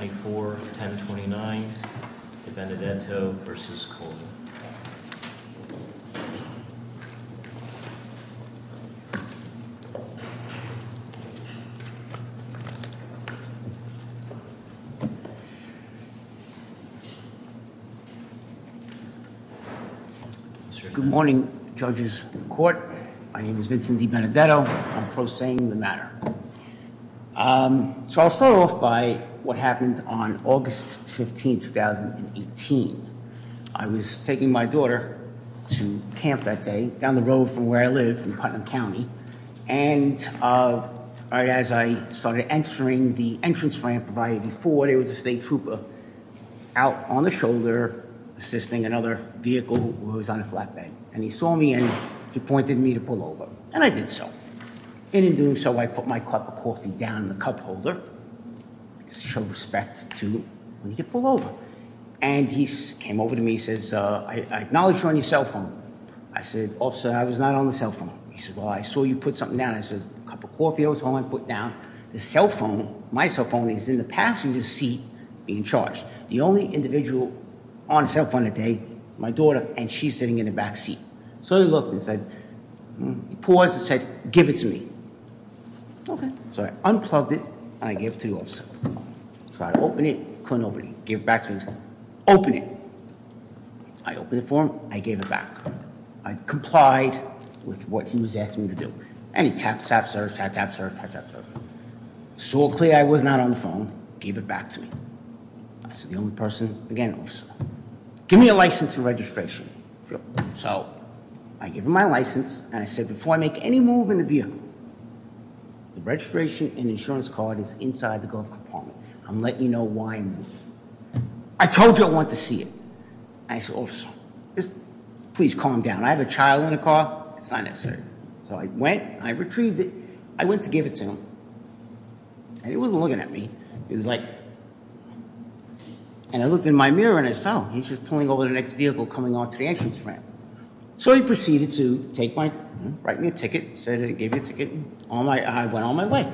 Good morning judges of the court, my name is Vincent DiBenedetto, I'm pro se in the So I'll start off by what happened on August 15, 2018. I was taking my daughter to camp that day down the road from where I live in Putnam County and right as I started entering the entrance ramp of I-84 there was a state trooper out on the shoulder assisting another vehicle who was on and he saw me and he pointed me to pull over and I did so and in doing so I put my cup of coffee down the cup holder show respect to when you pull over and he came over to me says I acknowledge you're on your cell phone I said also I was not on the cell phone he said well I saw you put something down I said a cup of coffee I was home I put down the cell phone my cell phone is in the passenger seat being charged the only individual on the cell phone today my daughter and she's in the back seat so he looked and said he paused and said give it to me okay so I unplugged it and I gave it to the officer try to open it couldn't open it give it back to me open it I opened it for him I gave it back I complied with what he was asking me to do and he tapped tap search tap tap search tap tap search so clearly I was not on the phone gave it back to me I said the only person again officer give me a license and registration so I give him my license and I said before I make any move in the vehicle the registration and insurance card is inside the golf compartment I'm letting you know why I told you I want to see it I said officer just please calm down I have a child in a car it's not necessary so I went I retrieved it I went to give it to him and he wasn't looking at me he was like and I looked in my mirror and I saw he's just pulling over the next vehicle coming onto the entrance ramp so he proceeded to take my write me a ticket said it gave you a ticket on my I went on my way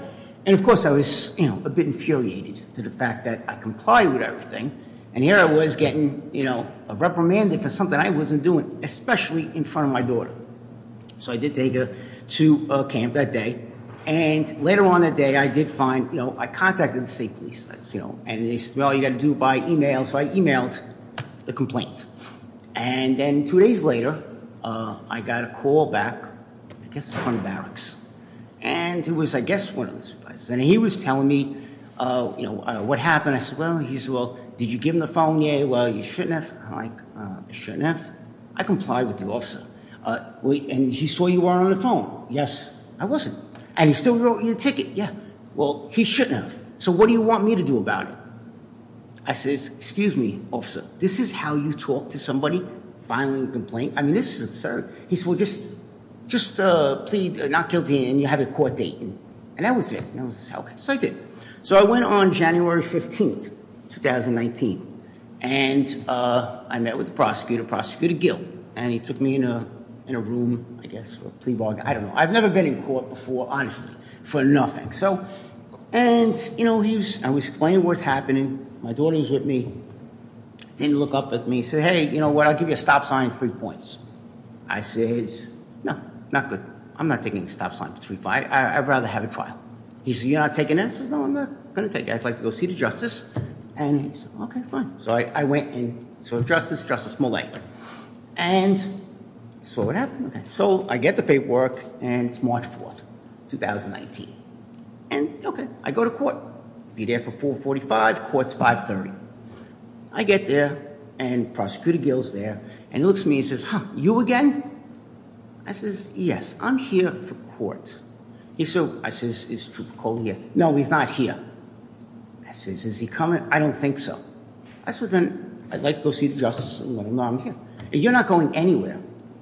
and of course I was you know a bit infuriated to the fact that I complied with everything and here I was getting you know reprimanded for something I wasn't doing especially in front of my daughter so I did take her to a camp that day and later on that day I did find I contacted the state police you know and they said well you got to do by email so I emailed the complaint and then two days later I got a call back I guess from barracks and it was I guess one of those places and he was telling me you know what happened I said well he's well did you give him the phone yeah well you shouldn't have like I shouldn't have I complied with the officer uh wait and he saw you are on the phone yes I wasn't and he still wrote you a ticket yeah well he shouldn't have so what do you want me to do about it I says excuse me officer this is how you talk to somebody filing a complaint I mean this is a sir he said well just just uh plead not guilty and you have a court date and that was it that was okay so I did so I went on January 15th 2019 and uh I met with the prosecutor prosecutor Gill and he took me in a in a room I guess for I don't know I've never been in court before honestly for nothing so and you know he was I was explaining what's happening my daughter was with me didn't look up at me said hey you know what I'll give you a stop sign three points I says no not good I'm not taking a stop sign for three five I'd rather have a trial he said you're not taking answers no I'm not gonna take it I'd like to go see the justice and he said okay fine so I went in so justice justice mullay and so what and it's March 4th 2019 and okay I go to court be there for 4 45 courts 5 30 I get there and prosecutor Gill's there and he looks at me and says huh you again I says yes I'm here for court he's so I says is Trooper Cole here no he's not here I says is he coming I don't think so I said then I'd like to go see the justice and let him know I'm here you're not going anywhere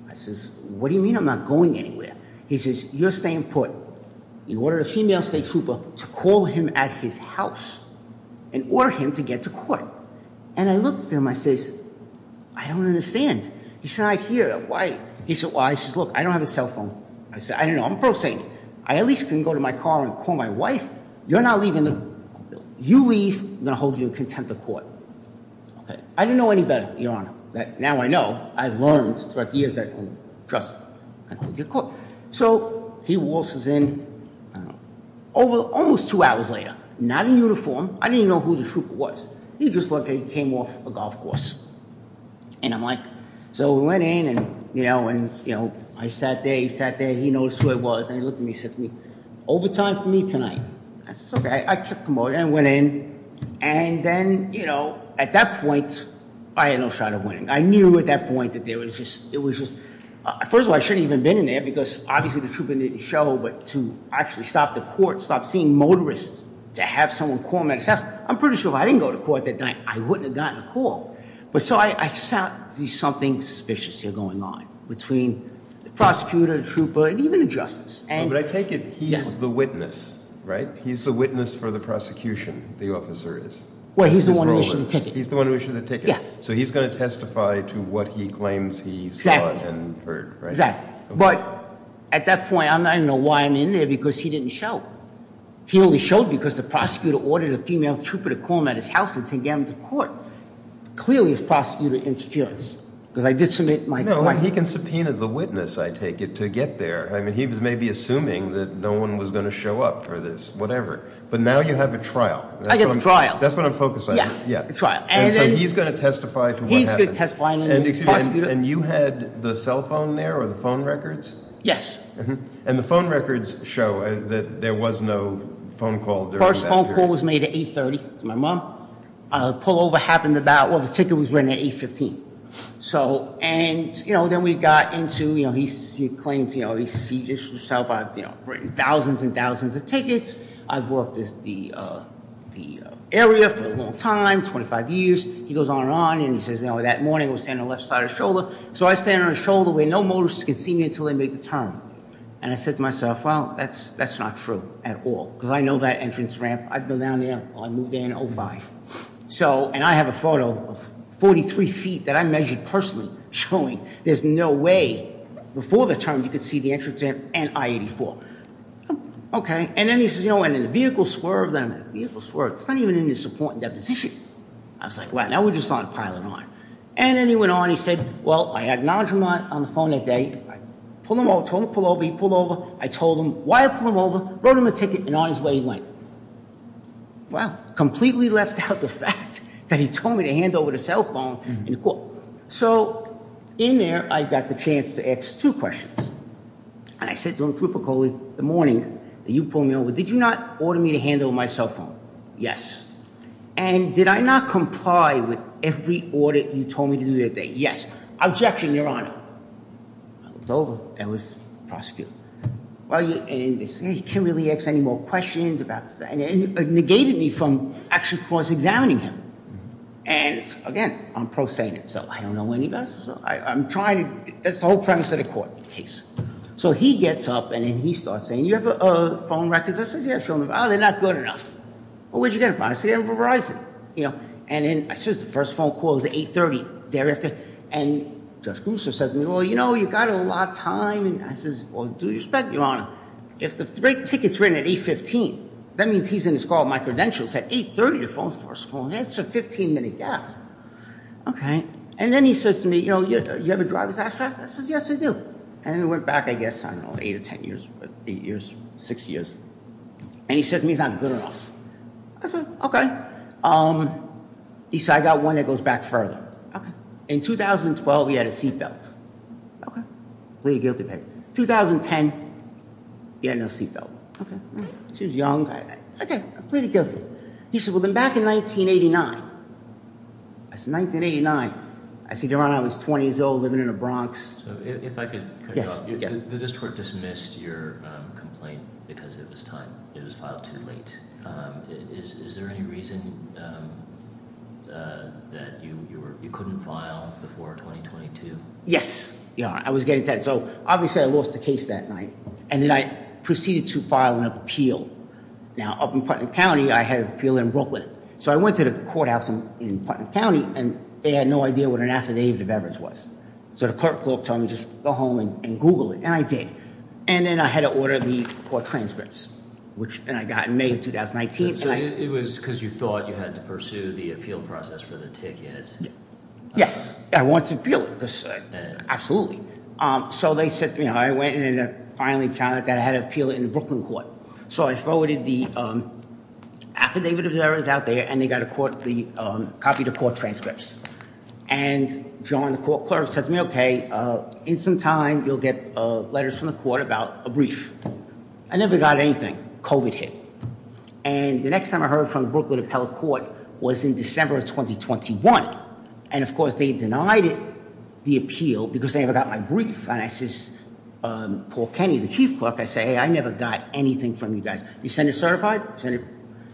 I says what do you mean I'm not going anywhere he says you're staying put he ordered a female state trooper to call him at his house and order him to get to court and I looked at him I says I don't understand he said I hear that why he said why he says look I don't have a cell phone I said I don't know I'm pro saying I at least can go to my car and call my wife you're not leaving the you leave I'm gonna hold you in contempt of court okay I didn't know any better your honor that now I know I've learned throughout the years that trust so he waltzes in over almost two hours later not in uniform I didn't know who the trooper was he just looked like he came off a golf course and I'm like so we went in and you know and you know I sat there he sat there he knows who I was and he looked at me sickly overtime for me tonight that's okay I went in and then you know at that point I had no shot of winning I knew at that point that there was just it was just first of all I shouldn't even been in there because obviously the trooper didn't show but to actually stop the court stop seeing motorists to have someone call myself I'm pretty sure if I didn't go to court that night I wouldn't have gotten a call but so I saw something suspicious here going on between the prosecutor trooper and even the but I take it he's the witness right he's the witness for the prosecution the officer is well he's the one who issued the ticket he's the one who issued the ticket yeah so he's going to testify to what he claims he saw and heard right exactly but at that point I'm not even know why I'm in there because he didn't show he only showed because the prosecutor ordered a female trooper to call him at his house and take him to court clearly is prosecutor interference because I may be assuming that no one was going to show up for this whatever but now you have a trial I get the trial that's what I'm focused on yeah yeah it's right and so he's going to testify to what he's going to testify and you had the cell phone there or the phone records yes and the phone records show that there was no phone call first phone call was made at 8 30 to my mom a pullover happened about well the ticket was written at 8 15 so and you know then we got into you know he claims you know he sees yourself I've you know written thousands and thousands of tickets I've worked at the uh the area for a long time 25 years he goes on and on and he says you know that morning I was standing on the left side of the shoulder so I stand on the shoulder where no motorists can see me until they make the turn and I said to myself well that's that's not true at all because I know that entrance ramp I've been down there I moved there in 05 so and I have a turn you can see the entrance there and I 84 okay and then he says you know and in the vehicle swerve then the vehicle swerve it's not even in his support and deposition I was like wow now we're just on pilot on and then he went on he said well I acknowledge him on the phone that day I pulled him over told him pull over he pulled over I told him why I pulled him over wrote him a ticket and on his way he went well completely left out the fact that he told me to hand over the cell phone in the court so in there I got the chance to ask two questions and I said don't group a colleague the morning that you pulled me over did you not order me to handle my cell phone yes and did I not comply with every order you told me to do that day yes objection your honor it's over that was prosecuted well you can't really ask any more questions about this and it negated me from actually of course examining him and again I'm prostating him so I don't know when he passed so I'm trying to that's the whole premise of the court case so he gets up and then he starts saying you have a phone records I said yeah show me oh they're not good enough well where'd you get it from I said I'm from Verizon you know and then I says the first phone call is at 8 30 thereafter and Judge Brewster says well you know you got a lot of time and I says well due respect your honor if the ticket's written at 8 15 that means he's in his call my credentials at 8 30 your phone force phone that's a 15 minute gap okay and then he says to me you know you ever drive his after I says yes I do and it went back I guess I don't know eight or ten years but eight years six years and he said to me he's not good enough I said okay um he said I got one that goes back okay in 2012 he had a seat belt okay pleaded guilty paper 2010 he had no seat belt okay she was young okay I pleaded guilty he said well then back in 1989 I said 1989 I said your honor I was 20 years old living in the Bronx so if I could yes yes the district dismissed your um complaint because it was time it was filed too late um is is there any reason um uh that you you were you couldn't file before 2022 yes yeah I was getting that so obviously I lost the case that night and then I proceeded to file an appeal now up in Putnam County I had appeal in Brooklyn so I went to the courthouse in Putnam County and they had no idea what an affidavit of evidence was so the clerk clerk told me just go home and google it and I did and then I had to order the court transcripts which and I got in May of 2019 so it was because you thought you had to pursue the appeal process for the tickets yes I want to feel it because absolutely um so they said to me I went in and finally found out that I had an appeal in the Brooklyn court so I forwarded the um affidavit of errors out there and they got a court the um copy the court transcripts and joined the court clerk said to me okay uh in some time you'll get uh letters from the court about a brief I never got anything COVID hit and the next time I heard from Brooklyn appellate court was in December of 2021 and of course they denied it the appeal because they never got my brief and I says um Paul Kenny the chief clerk I say hey I never got anything from you guys you send it certified send it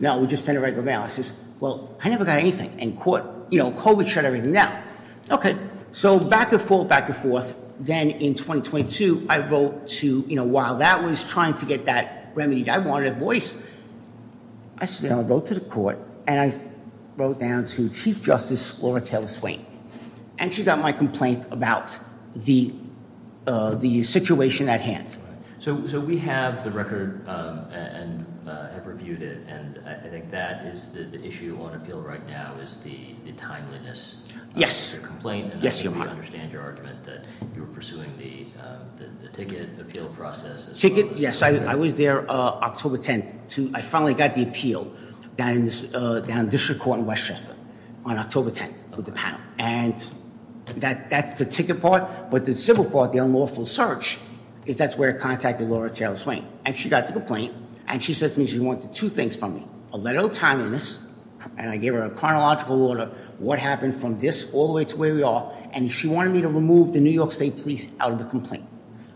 no we just send it right to the mail I says well I never got anything in court you know COVID shut everything down okay so back and forth back and forth then in 2022 I wrote to you know while that was trying to get that remedy I wanted a voice I said I wrote to the court and I wrote down to chief justice Laura Taylor Swain and she got my complaint about the uh the situation at hand so so we have the record um and uh have reviewed it and I think that is the issue on appeal right now is the the timeliness yes your complaint yes you understand your argument that you were pursuing the um the ticket appeal ticket yes I was there uh October 10th to I finally got the appeal down in this uh down district court in Westchester on October 10th with the panel and that that's the ticket part but the simple part the unlawful search is that's where I contacted Laura Taylor Swain and she got the complaint and she said to me she wanted two things from me a letter of timeliness and I gave her a chronological order what happened from this all the way to where we are and she wanted me to the New York state police out of the complaint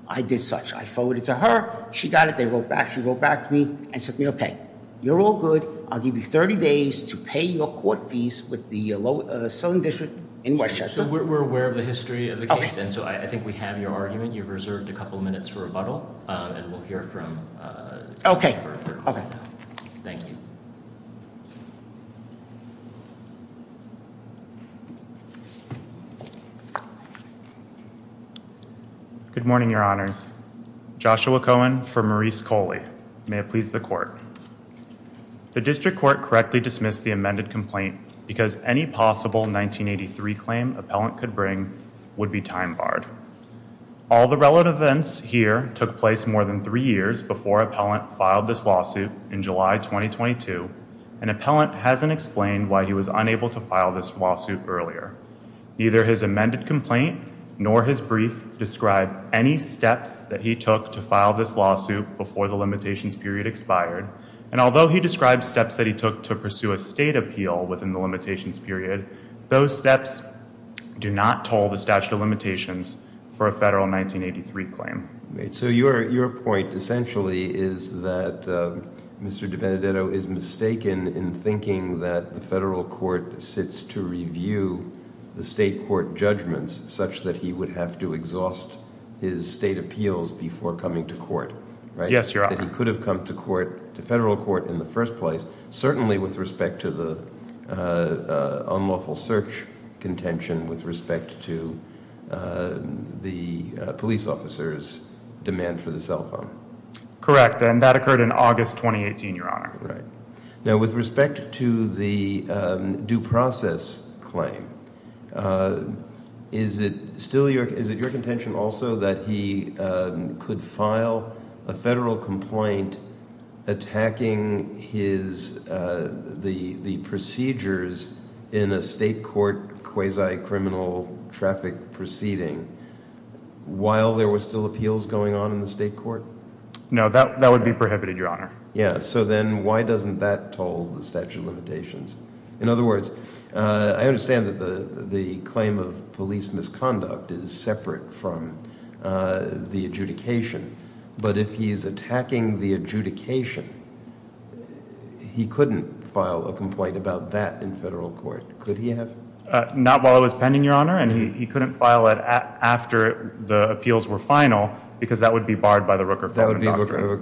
I did such I forwarded to her she got it they wrote back she wrote back to me and said okay you're all good I'll give you 30 days to pay your court fees with the uh southern district in Westchester we're aware of the history of the case and so I think we have your argument you've reserved a couple minutes for rebuttal um and uh okay okay thank you good morning your honors Joshua Cohen for Maurice Coley may it please the court the district court correctly dismissed the amended complaint because any possible 1983 claim appellant could bring would be time barred all the relevant events here took place more than three years before appellant filed this lawsuit in July 2022 an appellant hasn't explained why he was unable to file this lawsuit earlier neither his amended complaint nor his brief describe any steps that he took to file this lawsuit before the limitations period expired and although he described steps that he took to pursue a state appeal within the limitations period those steps do not toll the statute of limitations for a federal 1983 claim so your your point essentially is that Mr. DiBenedetto is mistaken in thinking that the federal court sits to review the state court judgments such that he would have to exhaust his state appeals before coming to court right yes your honor he could have come to court to federal court in the first place certainly with respect to uh unlawful search contention with respect to the police officers demand for the cell phone correct and that occurred in August 2018 your honor right now with respect to the due process claim is it still your is it your contention also that he could file a federal complaint attacking his uh the the procedures in a state court quasi-criminal traffic proceeding while there were still appeals going on in the state court no that that would be prohibited your honor yeah so then why doesn't that toll the statute of limitations in other words uh i understand that the the claim of police misconduct is separate from uh the adjudication but if he's attacking the adjudication he couldn't file a complaint about that in federal court could he have not while it was pending your honor and he couldn't file it after the appeals were final because that would be barred by the Rooker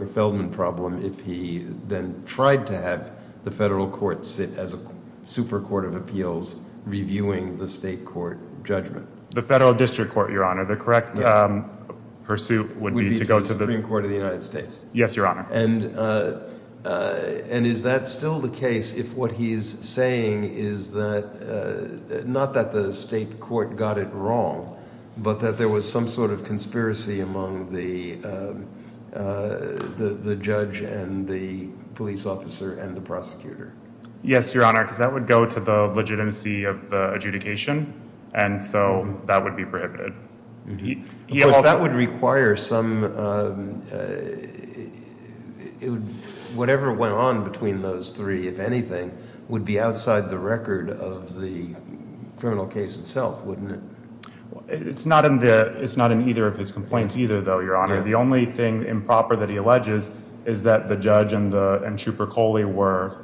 Feldman problem if he then tried to have the federal court sit as a super court of appeals reviewing the state court judgment the federal would be to go to the Supreme Court of the United States yes your honor and uh and is that still the case if what he's saying is that uh not that the state court got it wrong but that there was some sort of conspiracy among the uh the the judge and the police officer and the prosecutor yes your honor because that would go to the legitimacy of the adjudication and so that would be prohibited that would require some whatever went on between those three if anything would be outside the record of the criminal case itself wouldn't it it's not in the it's not in either of his complaints either though your honor the only thing improper that he alleges is that the judge and the and trooper coley were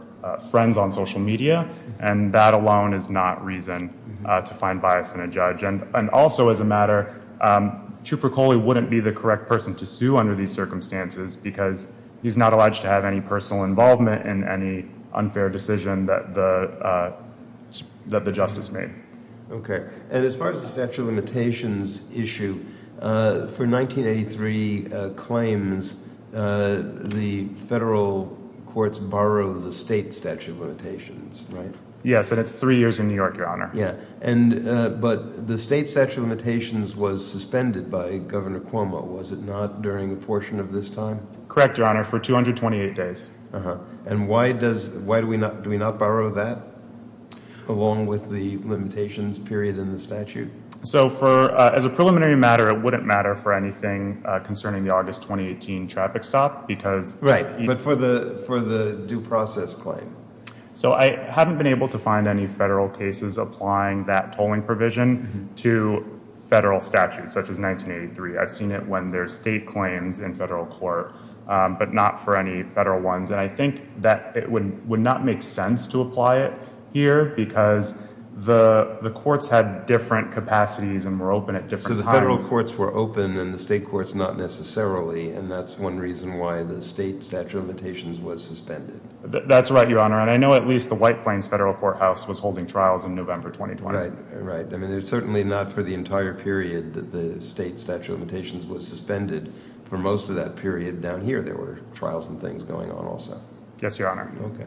friends on social media and that alone is not reason to find bias in a judge and and also as a matter um trooper coley wouldn't be the correct person to sue under these circumstances because he's not allowed to have any personal involvement in any unfair decision that the uh that the justice made okay and as far as the statute of limitations issue uh for 1983 uh claims uh the federal courts borrow the state statute of limitations right yes and it's three years in new york your honor yeah and uh but the state statute of limitations was suspended by governor cuomo was it not during a portion of this time correct your honor for 228 days uh-huh and why does why do we not do we not borrow that along with the limitations period in the statute so for as a preliminary matter it wouldn't matter for anything uh concerning the august 2018 traffic stop because right but for the for the due process claim so i haven't been able to find any federal cases applying that tolling provision to federal statutes such as 1983 i've seen it when there's state claims in federal court but not for any federal ones and i think that it would would not make sense to apply it here because the the courts had different capacities and were open at the federal courts were open and the state courts not necessarily and that's one reason why the state statute of limitations was suspended that's right your honor and i know at least the white plains federal courthouse was holding trials in november 2020 right i mean it's certainly not for the entire period that the state statute of limitations was suspended for most of that period down here there were trials and things going on also yes your honor okay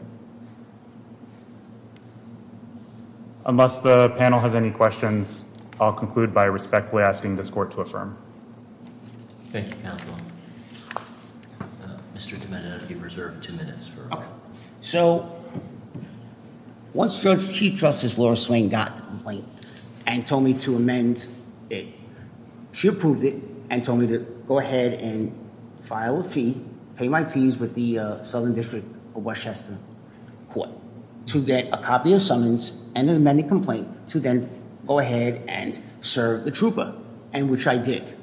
unless the panel has any questions i'll conclude by respectfully asking this court to affirm thank you counsel mr demented if you've reserved two minutes for so once george chief justice laura swain got the complaint and told me to amend it she approved it and told me to go ahead and file a fee pay my fees with the southern district of westchester court to get a copy of summons and an amended complaint to then go ahead and serve the trooper and which i did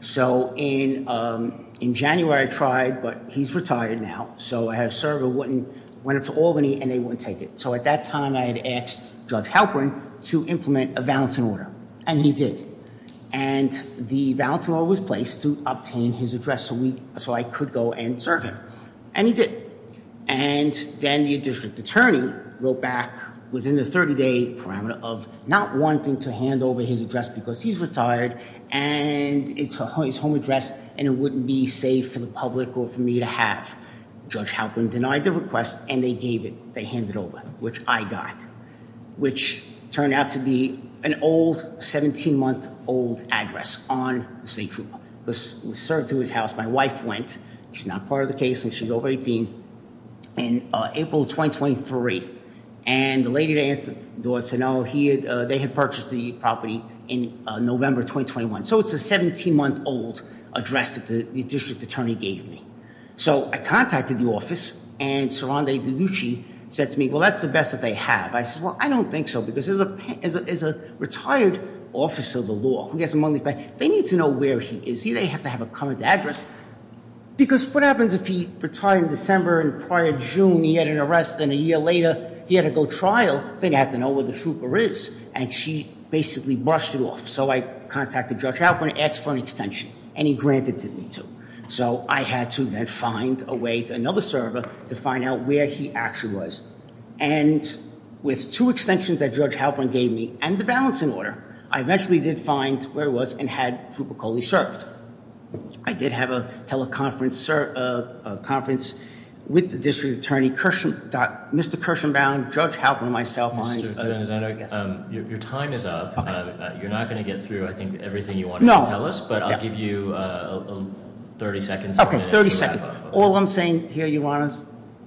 so in um in january i tried but he's retired now so i have server wouldn't went up to albany and they wouldn't take it so at that time i had asked judge halperin to implement a valentine order and he did and the valentine was placed to obtain his address a week so i could go and serve him and he did and then the district attorney wrote back within the 30-day parameter of not wanting to hand over his address because he's retired and it's his home address and it wouldn't be safe for the public or for me to have judge halperin denied the request and they gave it they handed over which i got which turned out to be an old 17 month old address on the state was served to his house my wife went she's not part of the case and she's over 18 in april 2023 and the lady that answered the door said no he had they had purchased the property in november 2021 so it's a 17 month old address that the district attorney gave me so i contacted the office and sir andrew said to me well that's the best that they have i said well i don't think so because there's a there's a retired officer of the law who gets money but they need to know where he is he they have to have a current address because what happens if he retired in december and prior june he had an arrest and a year later he had to go trial they'd have to know where the trooper is and she basically brushed it off so i contacted judge halperin asked for an extension and he granted to me too so i had to then find a way to another server to find out where he actually was and with two extensions that judge halperin gave me and the balancing order i eventually did find where it was and had trooper coley served i did have a teleconference sir a conference with the district attorney kershaw dot mr kershaw bound judge halperin myself your time is up you're not going to get through i think everything you want to tell us but i'll you uh 30 seconds okay 30 seconds all i'm saying here your honors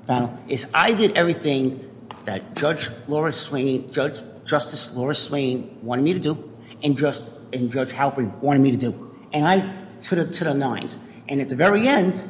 panel is i did everything that judge laura swain judge justice laura swain wanted me to do and just and judge halperin wanted me to do and i to the to the nines and at the very end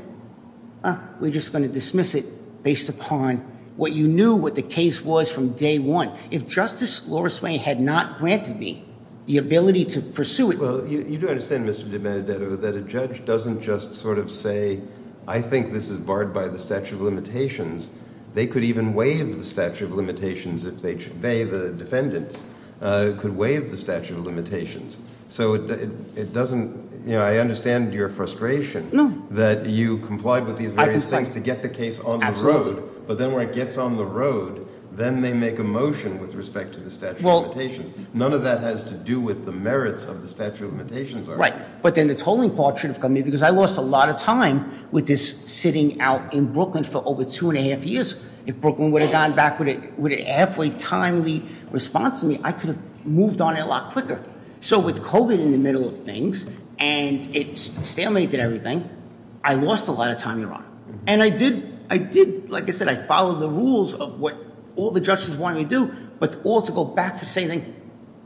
we're just going to dismiss it based upon what you knew what the case was from day one if justice laura swain had not granted me the ability to pursue it well you do understand mr de mandato that a judge doesn't just sort of say i think this is barred by the statute of limitations they could even waive the statute of limitations if they should they the defendant uh could waive the statute of limitations so it it doesn't you know i understand your frustration no that you complied with these various things to get the case on the road but then when it gets on the road then they make a motion with respect to statute of limitations none of that has to do with the merits of the statute of limitations right but then the tolling part should have come in because i lost a lot of time with this sitting out in brooklyn for over two and a half years if brooklyn would have gone back with it with a halfway timely response to me i could have moved on a lot quicker so with covid in the middle of things and it's stalemate did everything i lost a lot of time your honor and i did i did like i said i followed the rules of what all the judges want me to do but all to go back to saying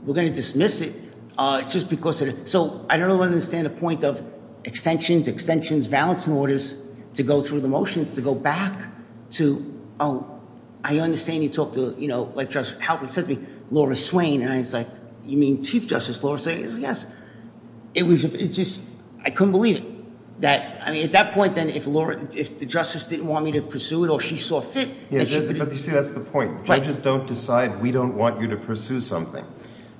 we're going to dismiss it uh just because so i don't understand the point of extensions extensions valence orders to go through the motions to go back to oh i understand you talked to you know like just how it said to me laura swain and i was like you mean chief justice laura saying yes it was just i couldn't believe it that i mean at that point then if laura if the justice didn't want me to pursue it or she saw fit but you see that's the point judges don't decide we don't want you to pursue something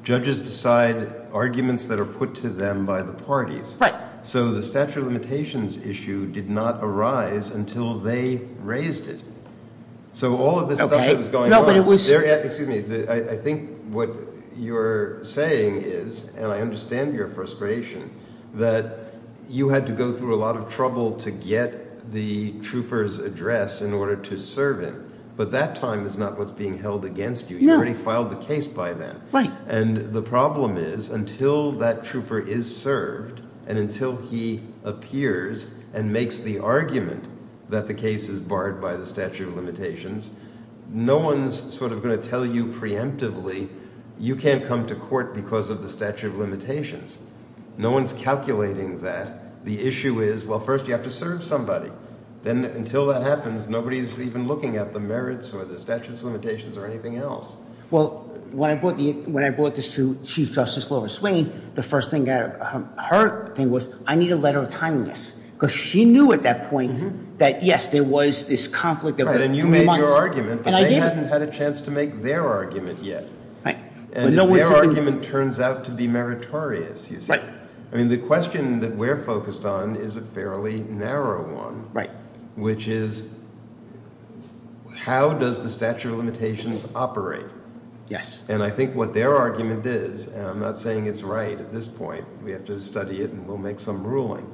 judges decide arguments that are put to them by the parties right so the statute of limitations issue did not arise until they raised it so all of this stuff that was going no but it was there yet excuse me i think what you're saying is and i understand your frustration that you had to go through a lot of trouble to get the trooper's address in order to serve him but that time is not what's being held against you you already filed the case by then right and the problem is until that trooper is served and until he appears and makes the argument that the case is barred by the statute of limitations no one's sort of going to tell you preemptively you can't come to court because of the statute of limitations no one's calculating that the issue is well first you have to serve somebody then until that happens nobody's even looking at the merits or the statutes limitations or anything else well when i bought the when i brought this to chief justice laura swain the first thing i heard thing was i need a letter of timeliness because she knew at that point that yes there was this conflict and you made your argument but they hadn't had a chance to make their argument yet right and their argument turns out to be meritorious you see right i mean the question that we're focused on is a fairly narrow one right which is how does the statute of limitations operate yes and i think what their argument is and i'm not saying it's right at this point we have to study it and we'll make some ruling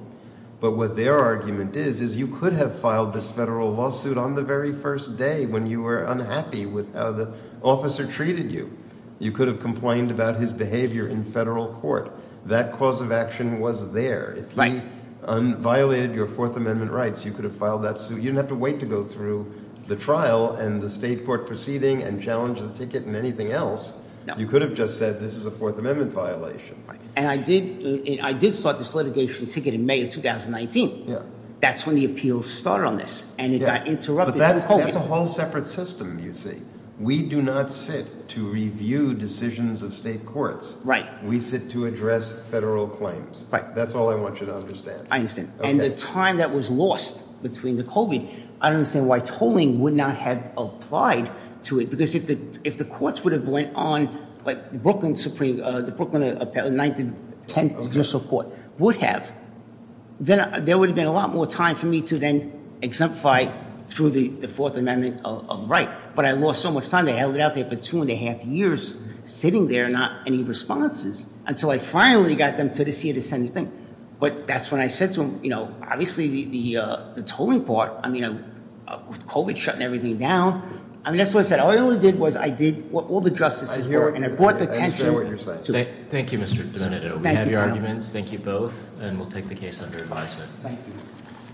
but what their argument is is you could have filed this federal lawsuit on the very first day when you were unhappy with how the officer treated you you could have complained about his behavior in federal court that cause of action was there if he violated your fourth amendment rights you could have filed that suit you didn't have to wait to go through the trial and the state court proceeding and challenge the ticket and anything else you could have just said this is a fourth amendment violation right and i did i did start this litigation ticket in may of 2019 yeah that's when the appeals started on this and it got interrupted that's a whole separate system you see we do not sit to review decisions of state courts right we sit to address federal claims right that's all i want you to understand i understand and the time that was lost between the covid i don't understand why tolling would not have applied to it because if the if the courts would have went on like brooklyn supreme uh the brooklyn uh 1910 judicial court would have then there would have been a lot more time for me to then exemplify through the fourth amendment of right but i lost so much time they held it out there for two and a half years sitting there not any responses until i finally got them to this year to send anything but that's when i said to him you know obviously the the uh the tolling part i mean with covid shutting everything down i mean that's what i said all i really did was i did what all the justices were and i brought the to thank you mr diminuto we have your arguments thank you both and we'll take the case under advisement thank you